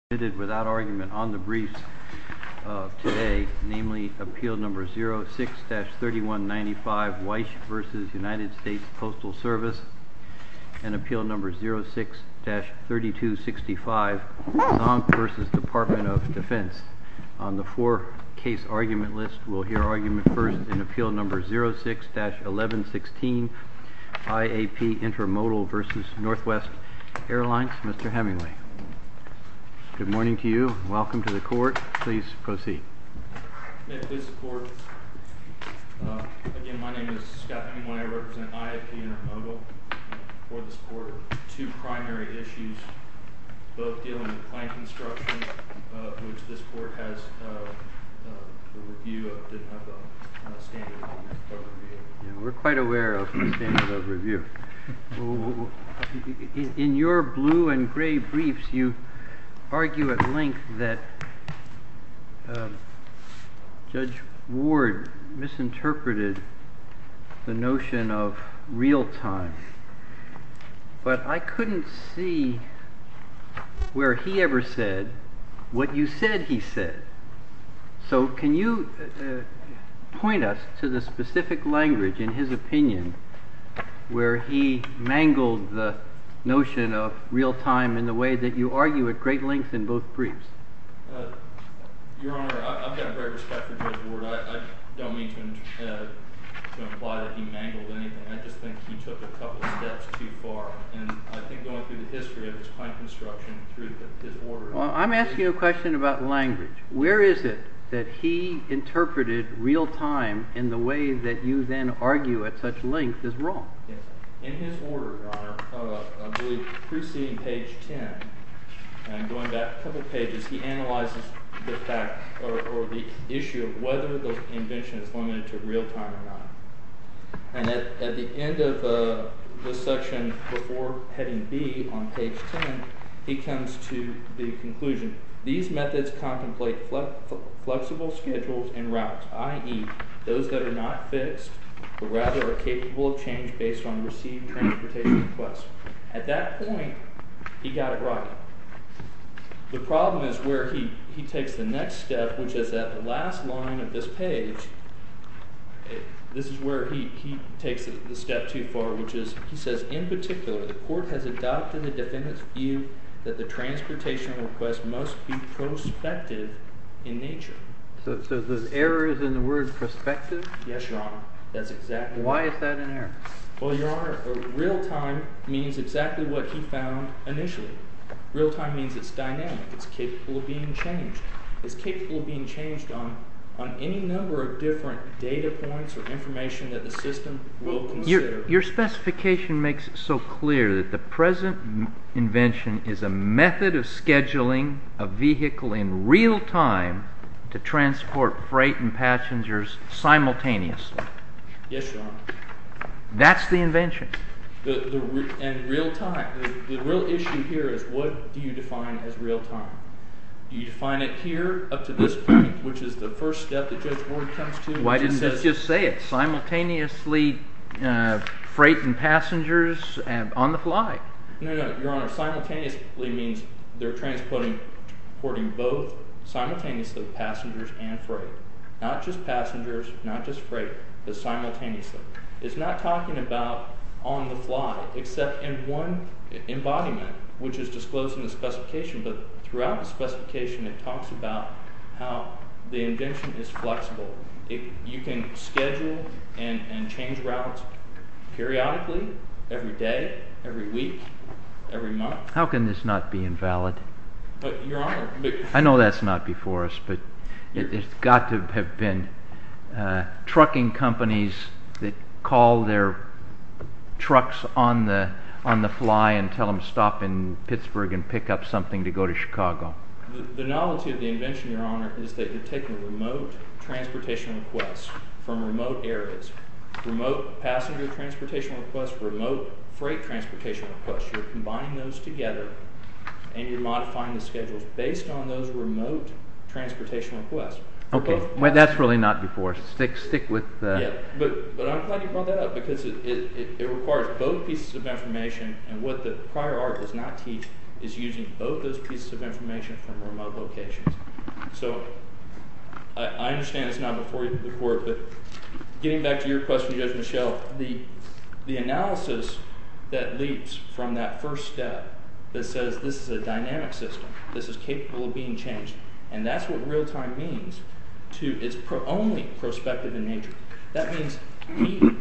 Airlines, Mr. Hemingway. Department of Defense has submitted, without argument, on the briefs today, namely, Appeal No. 06-3195, Weich v. United States Postal Service, and Appeal No. 06-3265, Zonk v. Department of Defense. On the four-case argument list, we'll hear argument first in Appeal No. 06-1116, IAP Intermodal v. Northwest Airlines. Mr. Hemingway. Good morning to you. Welcome to the court. Please proceed. May it please the court. Again, my name is Scott Hemingway. I represent IAP Intermodal for this court. Two primary issues, both dealing with plane construction, which this court has a review of, didn't have a standard of review. We're quite aware of the standard of review. In your blue and gray briefs, you argue at length that Judge Ward misinterpreted the notion of real time, but I couldn't see where he ever said what you said he said. So can you point us to the specific language in his opinion where he mangled the notion of real time in the way that you argue at great length in both briefs? Your Honor, I've got great respect for Judge Ward. I don't mean to imply that he mangled anything. I just think he took a couple of steps too far, and I think going through the history of his plane construction through his orders. Well, I'm asking a question about language. Where is it that he interpreted real time in the way that you then argue at such length is wrong? In his order, Your Honor, I believe preceding page 10, and going back a couple pages, he analyzes the fact or the issue of whether the invention is limited to real time or not. And at the end of this section, before heading B on page 10, he comes to the conclusion, these methods contemplate flexible schedules and routes, i.e., those that are not fixed, but rather are capable of change based on received transportation requests. At that point, he got it right. The problem is where he takes the next step, which is at the last line of this page, this is where he takes the step too far, which is he says, in particular, the court has adopted the defendant's view that the transportation request must be prospective in nature. So the error is in the word prospective? Yes, Your Honor. That's exactly it. Why is that an error? Well, Your Honor, real time means exactly what he found initially. Real time means it's dynamic, it's capable of being changed. It's capable of being changed on any number of different data points or information that the system will consider. But your specification makes it so clear that the present invention is a method of scheduling a vehicle in real time to transport freight and passengers simultaneously. Yes, Your Honor. That's the invention. And real time, the real issue here is what do you define as real time? Do you define it here up to this point, which is the first step that Judge Ward comes to? Let's just say it. Simultaneously freight and passengers on the fly. No, Your Honor. Simultaneously means they're transporting both, simultaneously passengers and freight. Not just passengers, not just freight, but simultaneously. It's not talking about on the fly, except in one embodiment, which is disclosed in the specification, but throughout the specification it talks about how the invention is flexible. You can schedule and change routes periodically, every day, every week, every month. How can this not be invalid? Your Honor. I know that's not before us, but it's got to have been trucking companies that call their trucks on the fly and tell them stop in Pittsburgh and pick up something to go to Chicago. The novelty of the invention, Your Honor, is that you're taking remote transportation requests from remote areas. Remote passenger transportation requests, remote freight transportation requests. You're combining those together and you're modifying the schedules based on those remote transportation requests. Okay, that's really not before. Stick with the... But I'm glad you brought that up because it requires both pieces of information and what the prior art does not teach is using both those pieces of information from remote locations. So, I understand it's not before the court, but getting back to your question, Judge Michelle, the analysis that leaps from that first step that says this is a dynamic system, this is capable of being changed, and that's what real time means. It's only prospective in nature. That means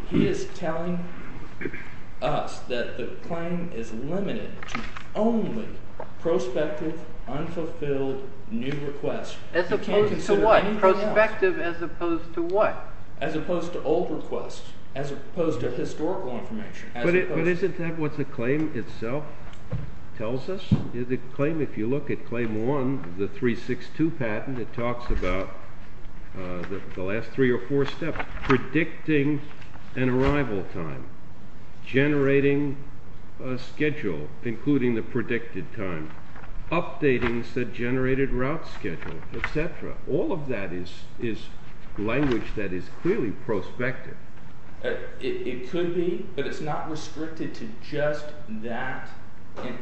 he is telling us that the claim is limited to only prospective, unfulfilled, new requests. As opposed to what? Prospective as opposed to what? As opposed to old requests. As opposed to historical information. But isn't that what the claim itself tells us? The claim, if you look at claim one, the 362 patent, it talks about the last three or four steps, predicting an arrival time, generating a schedule, including the predicted time, updating the generated route schedule, etc. All of that is language that is clearly prospective. It could be, but it's not restricted to just that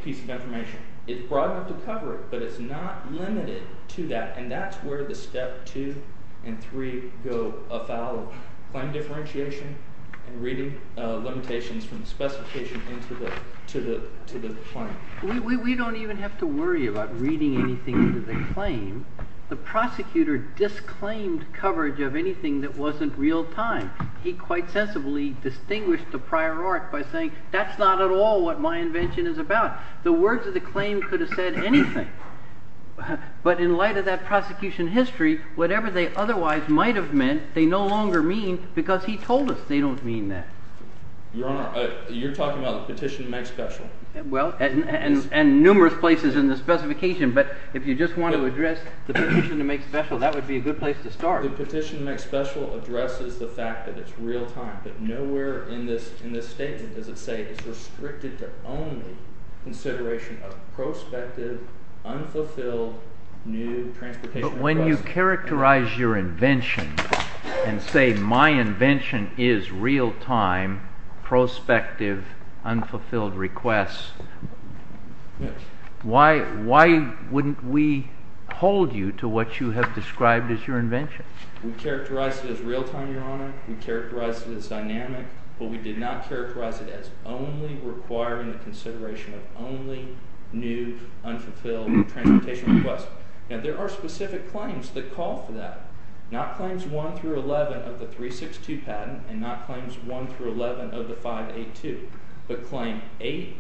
piece of information. It's broad enough to cover it, but it's not limited to that. And that's where the step two and three go afoul of claim differentiation and reading limitations from the specification into the claim. We don't even have to worry about reading anything into the claim. The prosecutor disclaimed coverage of anything that wasn't real time. He quite sensibly distinguished the prior art by saying that's not at all what my invention is about. The words of the claim could have said anything. But in light of that prosecution history, whatever they otherwise might have meant, they no longer mean because he told us they don't mean that. Your Honor, you're talking about the petition to make special. Well, and numerous places in the specification. But if you just want to address the petition to make special, that would be a good place to start. The petition to make special addresses the fact that it's real time. But nowhere in this statement does it say it's restricted to only consideration of prospective, unfulfilled, new transportation requests. But when you characterize your invention and say my invention is real time, prospective, unfulfilled requests, why wouldn't we hold you to what you have described as your invention? We characterized it as real time, Your Honor. We characterized it as dynamic. But we did not characterize it as only requiring the consideration of only new, unfulfilled transportation requests. Now there are specific claims that call for that. Not claims 1 through 11 of the 362 patent, and not claims 1 through 11 of the 582. But claim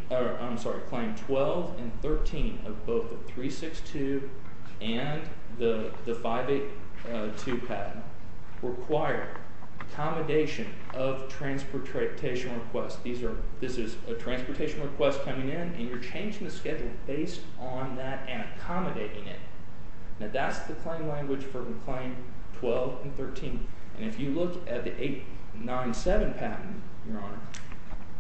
12 and 13 of both the 362 and the 582 patent require accommodation of transportation requests. This is a transportation request coming in, and you're changing the schedule based on that and accommodating it. Now that's the claim language for claim 12 and 13. And if you look at the 897 patent, Your Honor,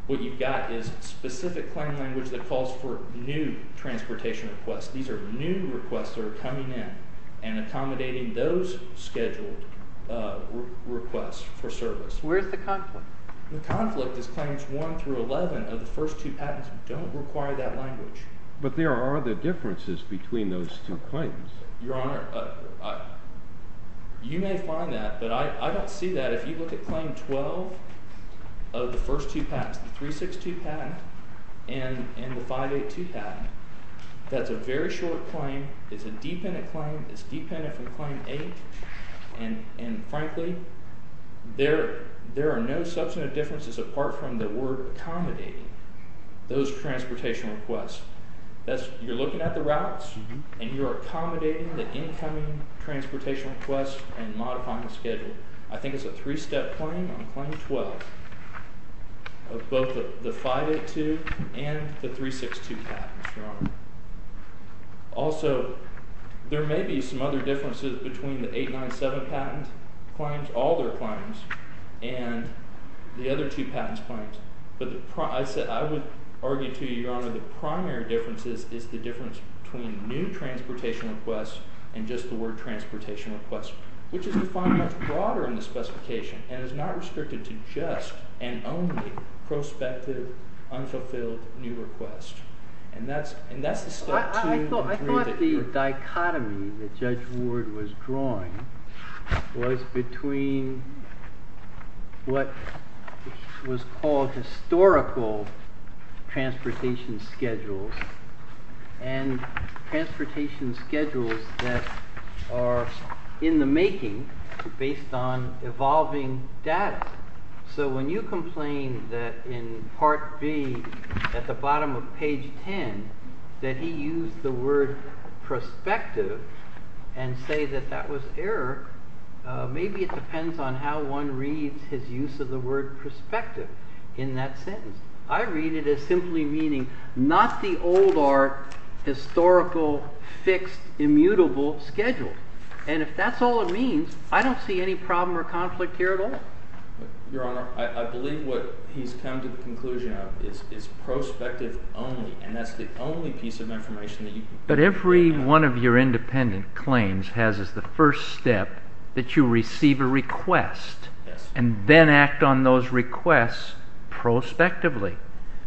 what you've got is specific claim language that calls for new transportation requests. These are new requests that are coming in and accommodating those scheduled requests for service. Where's the conflict? The conflict is claims 1 through 11 of the first two patents don't require that language. But there are other differences between those two claims. Your Honor, you may find that, but I don't see that. If you look at claim 12 of the first two patents, the 362 patent and the 582 patent, that's a very short claim. It's a dependent claim. It's dependent from claim 8. And frankly, there are no substantive differences apart from the word accommodating those transportation requests. You're looking at the routes, and you're accommodating the incoming transportation requests and modifying the schedule. I think it's a three-step claim on claim 12 of both the 582 and the 362 patents, Your Honor. Also, there may be some other differences between the 897 patent claims, all their claims, and the other two patents' claims. I would argue to you, Your Honor, the primary difference is the difference between new transportation requests and just the word transportation requests, which is defined much broader in the specification, and is not restricted to just and only prospective, unfulfilled new requests. And that's the starting point. I thought the dichotomy that Judge Ward was drawing was between what was called historical transportation schedules and transportation schedules that are in the making based on evolving data. So when you complain that in Part B, at the bottom of page 10, that he used the word prospective and say that that was error, maybe it depends on how one reads his use of the word prospective in that sentence. I read it as simply meaning not the old or historical, fixed, immutable schedule. And if that's all it means, I don't see any problem or conflict here at all. Your Honor, I believe what he's come to the conclusion of is prospective only, and that's the only piece of information that you can... But every one of your independent claims has as the first step that you receive a request and then act on those requests prospectively.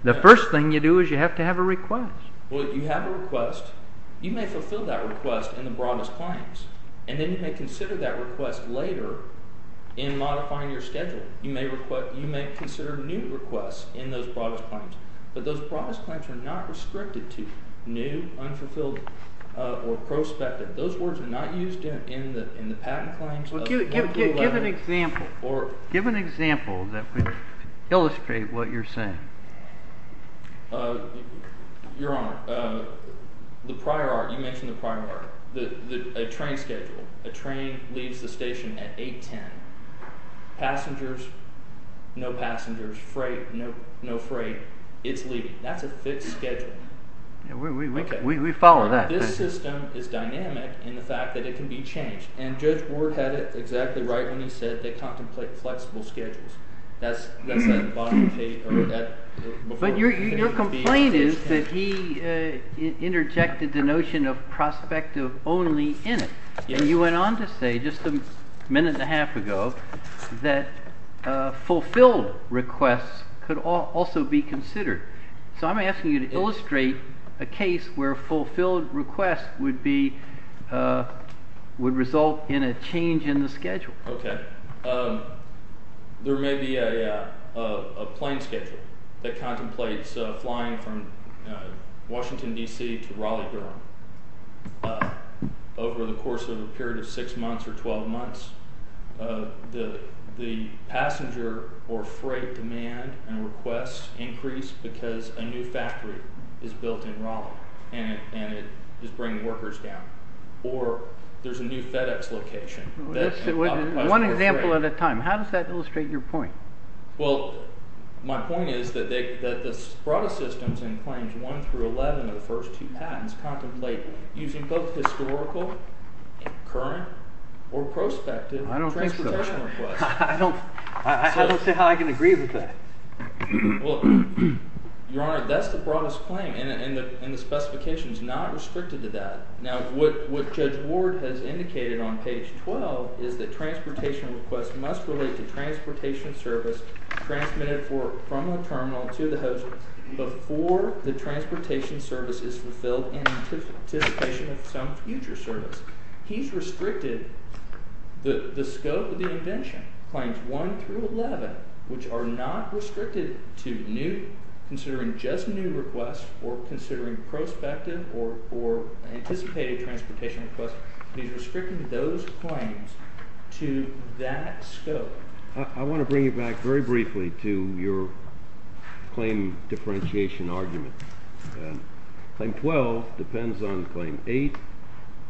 The first thing you do is you have to have a request. Well, you have a request. You may fulfill that request in the broadest claims. And then you may consider that request later in modifying your schedule. You may consider new requests in those broadest claims. But those broadest claims are not restricted to new, unfulfilled, or prospective. Those words are not used in the patent claims. Well, give an example. Give an example that would illustrate what you're saying. Your Honor, the prior art, you mentioned the prior art. A train schedule. A train leaves the station at 8.10. Passengers, no passengers. Freight, no freight. It's leaving. That's a fixed schedule. We follow that. This system is dynamic in the fact that it can be changed. And Judge Ward had it exactly right when he said they contemplate flexible schedules. That's at the bottom of the page. But your complaint is that he interjected the notion of prospective only in it. And you went on to say just a minute and a half ago that fulfilled requests could also be considered. So I'm asking you to illustrate a case where fulfilled requests would be would result in a change in the schedule. Okay. There may be a plane schedule that contemplates flying from Washington, D.C. to Raleigh, Durham over the course of a period of 6 months or 12 months the passenger or freight demand and requests increase because a new factory is built in Raleigh. And it is bringing workers down. Or there's a new FedEx location. One example at a time. How does that illustrate your point? Well, my point is that the Sprada systems in claims 1 through 11 of the first two patents contemplate using both historical, current, or prospective transportation requests. I don't think so. I don't see how I can agree with that. Your Honor, that's the broadest claim. And the specification is not restricted to that. Now, what Judge Ward has indicated on page 12 is that transportation requests must relate to transportation service transmitted from the terminal to the host before the transportation service is fulfilled in anticipation of some future service. He's restricted the scope of the invention claims 1 through 11 which are not restricted to new considering just new requests or considering prospective or anticipated transportation requests. He's restricting those claims to that scope. I want to bring you back very briefly to your claim differentiation argument. Claim 12 depends on Claim 8.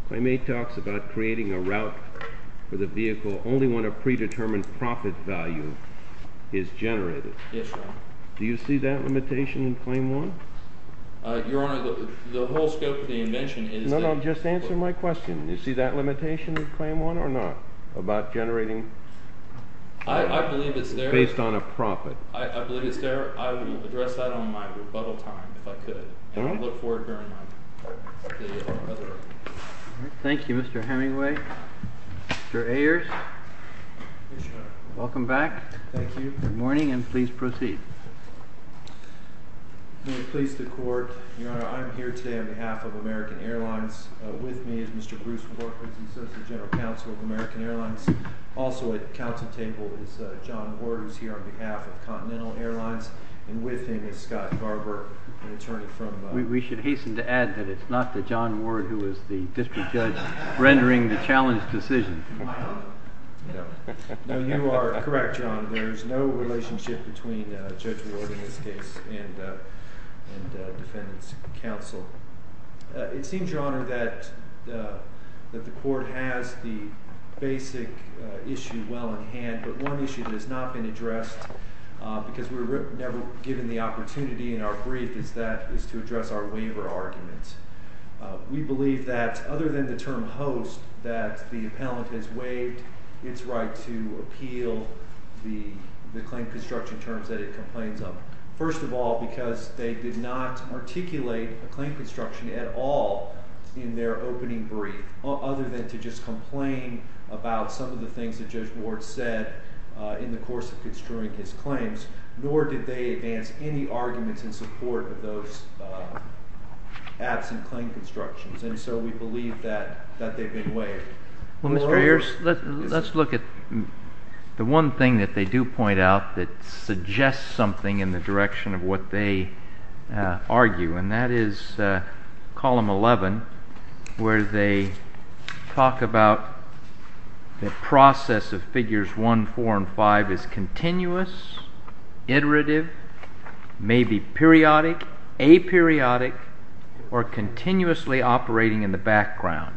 Claim 8 talks about creating a route for the vehicle only when a predetermined profit value is generated. Yes, Your Honor. Do you see that limitation in claim 1? Your Honor, the whole scope of the invention is... No, no. Just answer my question. Do you see that limitation in claim 1 or not about generating I believe it's there. based on a profit. I believe it's there. I will address that on my rebuttal time if I could. I will look forward to it. Thank you, Mr. Hemingway. Mr. Ayers. Welcome back. Thank you. Good morning and please proceed. May it please the Court. Your Honor, I'm here today on behalf of American Airlines. With me is Mr. Bruce Warford, associate general counsel of American Airlines. Also at counsel table is John Gore, who's here on behalf of Continental Airlines. And with him is Scott Garber, an attorney from... We should hasten to add that it's not the John Ward who is the district judge rendering the challenge decision. No. No, you are correct, John. There's no relationship between Judge Ward in this case and defendant's counsel. It seems, Your Honor, that the Court has the basic issue well in hand, but one issue that has not been addressed because we were never given the opportunity in our brief is to address our waiver argument. We believe that other than the term host that the appellant has waived its right to appeal the claim construction terms that it complains of, first of all because they did not articulate a claim construction at all in their opening brief other than to just complain about some of the things that Judge Ward said in the course of construing his claims nor did they advance any arguments in support of those absent claim constructions, and so we believe that they've been waived. Well, Mr. Ayers, let's look at the one thing that they do point out that suggests something in the direction of what they argue, and that is column 11 where they talk about the process of figures 1, 4, and 5 as continuous, iterative, maybe periodic, aperiodic, or continuously operating in the background.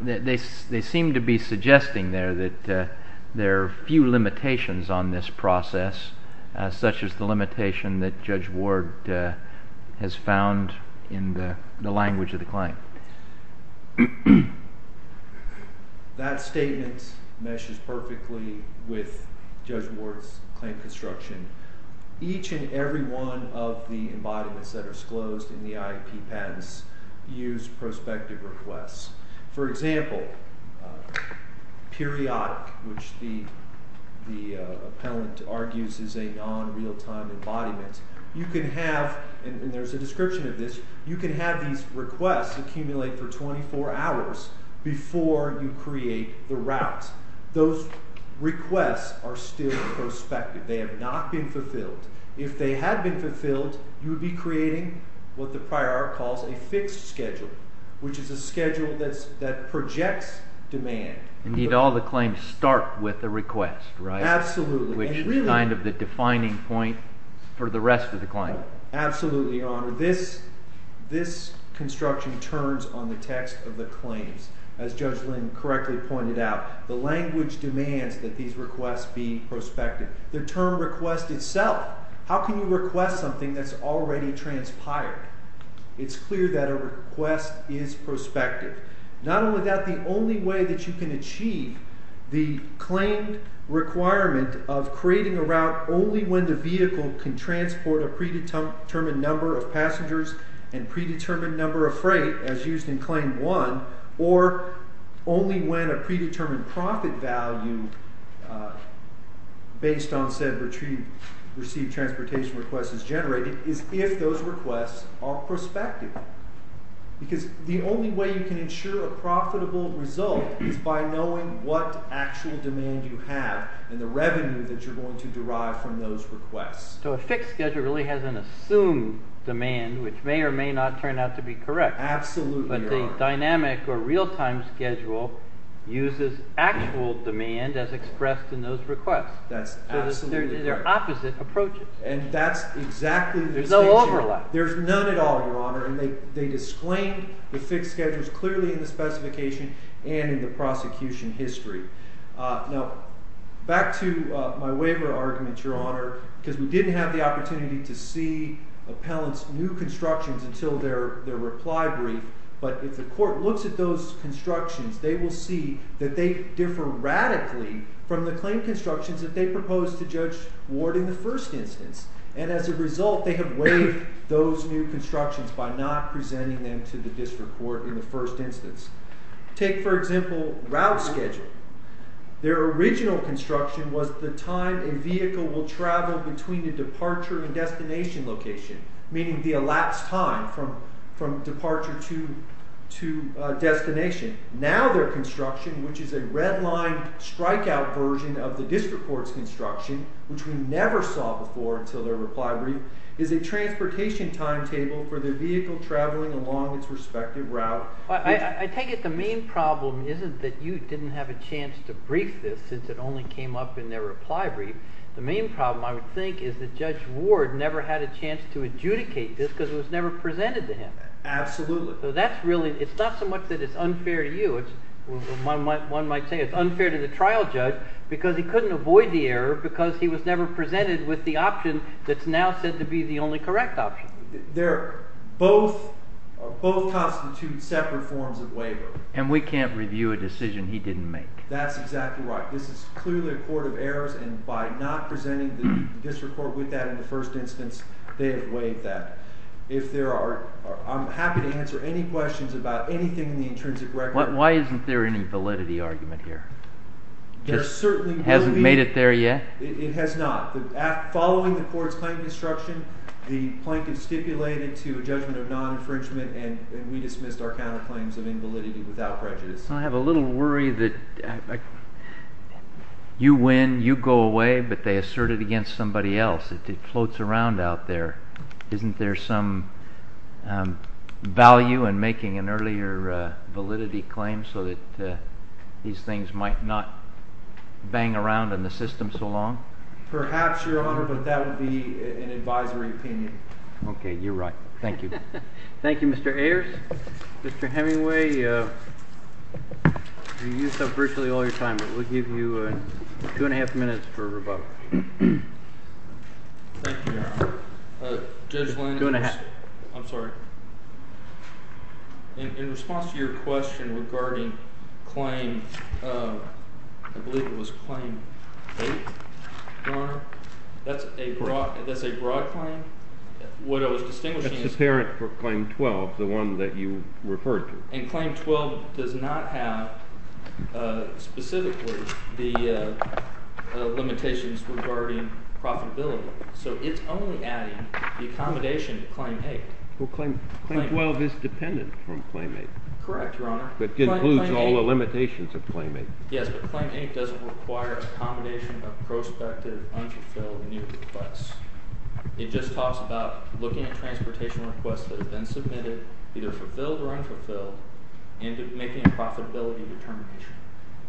They seem to be suggesting there that there are few limitations on this process such as the limitation that Judge Ward has found in the language of the claim. Now, that statement meshes perfectly with Judge Ward's claim construction. Each and every one of the embodiments that are disclosed in the IEP patents use prospective requests. For example, periodic, which the appellant argues is a non- real-time embodiment, you can have, and there's a description of this, you can have these requests accumulate for 24 hours before you create the route. Those requests are still prospective. They have not been fulfilled. If they had been fulfilled, you would be creating what the prior art calls a fixed schedule, which is a schedule that projects demand. Indeed, all the claims start with a request, right? Absolutely. Which is kind of the defining point for the rest of the claim. Absolutely, Your Honor. This construction turns on the text of the claims. As Judge Lynn correctly pointed out, the language demands that these requests be prospective. The term request itself, how can you request something that's already transpired? It's clear that a request is prospective. Not only that, the only way that you can achieve the claim requirement of creating a route only when the vehicle can transport a predetermined number of passengers and predetermined number of freight as used in Claim 1, or only when a predetermined profit value based on said received transportation requests is generated, is if those requests are prospective. Because the only way you can ensure a profitable result is by knowing what actual demand you have and the revenue that you're going to derive from those requests. So a fixed schedule really has an assumed demand, which may or may not turn out to be correct. But the dynamic or real-time schedule uses actual demand as expressed in those requests. They're opposite approaches. There's no overlap. There's none at all, Your Honor. They disclaimed the fixed schedules clearly in the specification and in the prosecution history. Now, back to my waiver argument, Your Honor, because we didn't have the opportunity to see appellants' new constructions until their reply brief, but if the court looks at those constructions, they will see that they differ radically from the claim constructions that they proposed to Judge Ward in the first instance. And as a result, they have waived those new constructions by not presenting them to the district court in the first instance. Take, for example, route schedule. Their original construction was the time a vehicle will travel between the departure and destination location, meaning the elapsed time from departure to destination. Now their construction, which is a red-lined strike-out version of the district court's construction, which we never saw before until their reply brief, is a transportation timetable for the vehicle traveling along its respective route. I take it the main problem isn't that you didn't have a chance to brief this, since it only came up in their reply brief. The main problem, I would think, is that Judge Ward never had a chance to adjudicate this because it was never presented to him. Absolutely. So that's really, it's not so much that it's unfair to you, it's, one might say it's unfair to the trial judge because he couldn't avoid the error because he was never presented with the option that's now said to be the only correct option. They're both, both constitute separate forms of waiver. And we can't review a decision he didn't make. That's exactly right. This is clearly a court of errors, and by not presenting the district court with that in the first instance, they have waived that. If there are, I'm happy to answer any questions about anything in the intrinsic record. Why isn't there any validity argument here? There certainly will be. Hasn't made it there yet? It has not. Following the court's plan construction, the plaintiff stipulated it to a judgment of non-infringement, and we dismissed our counterclaims of invalidity without prejudice. I have a little worry that you win, you go away, but they assert it against somebody else. It floats around out there. Isn't there some value in making an earlier validity claim so that these things might not bang around in the system so long? Perhaps, Your Honor, but that would be an advisory opinion. Okay, you're right. Thank you. Thank you, Mr. Ayers. Mr. Hemingway, you used up virtually all your time, but we'll give you two and a half minutes for rebuttal. Thank you, Your Honor. Two and a half. I'm sorry. In response to your question regarding claim, I believe it was claim eight, Your Honor, that's a broad claim. What I was distinguishing is... That's apparent for claim twelve, the one that you referred to. And claim twelve does not have specifically the limitations regarding profitability. So it's only adding the accommodation to claim eight. Well, claim twelve is dependent from claim eight. Correct, Your Honor. But it includes all the limitations of claim eight. Yes, but claim eight doesn't require accommodation of prospective unfulfilled new requests. It just talks about looking at transportation requests that have been submitted, either fulfilled or unfulfilled, and making a profitability determination.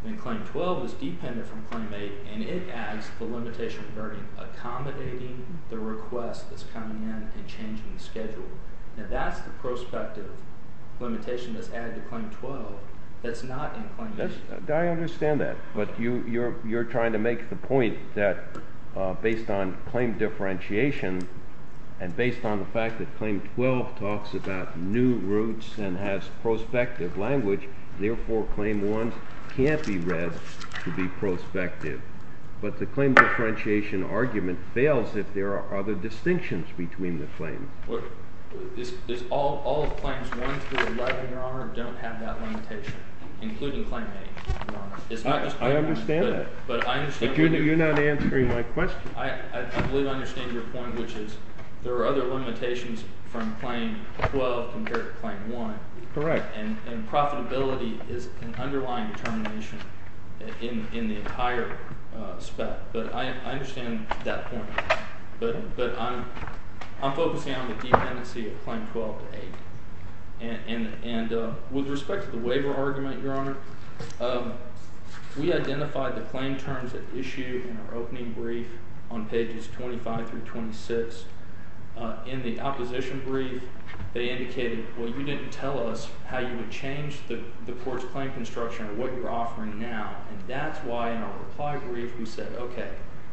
And claim twelve is dependent from claim eight, and it adds the limitation regarding accommodating the request that's coming in and changing the schedule. Now that's the prospective limitation that's added to claim twelve that's not in claim eight. I understand that, but you're trying to make the point that based on claim differentiation, and based on the fact that claim twelve talks about new routes and has prospective language, therefore claim one can't be read to be prospective. But the claim differentiation argument fails if there are other distinctions between the claims. All the claims one through eleven, Your Honor, don't have that I understand that, but you're not answering my question. I believe I understand your point, which is there are other limitations from claim twelve compared to claim one. Correct. And profitability is an underlying determination in the entire spec, but I understand that point. But I'm focusing on the dependency of claim twelve to eight. And with respect to the we identified the claim terms at issue in our opening brief on pages twenty-five through twenty-six. In the opposition brief, they indicated, well, you didn't tell us how you would change the court's claim construction or what you're offering now. And that's why in our reply brief we said, okay,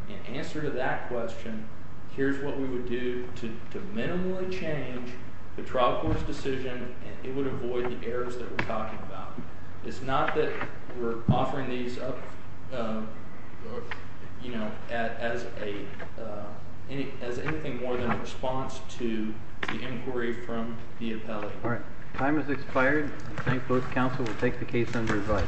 in answer to that question, here's what we would do to minimally change the trial court's decision and it would avoid the errors that we're talking about. It's not that we're offering these up as anything more than a response to the inquiry from the appellate. Time has expired. I thank both counsel. We'll take the case under revise.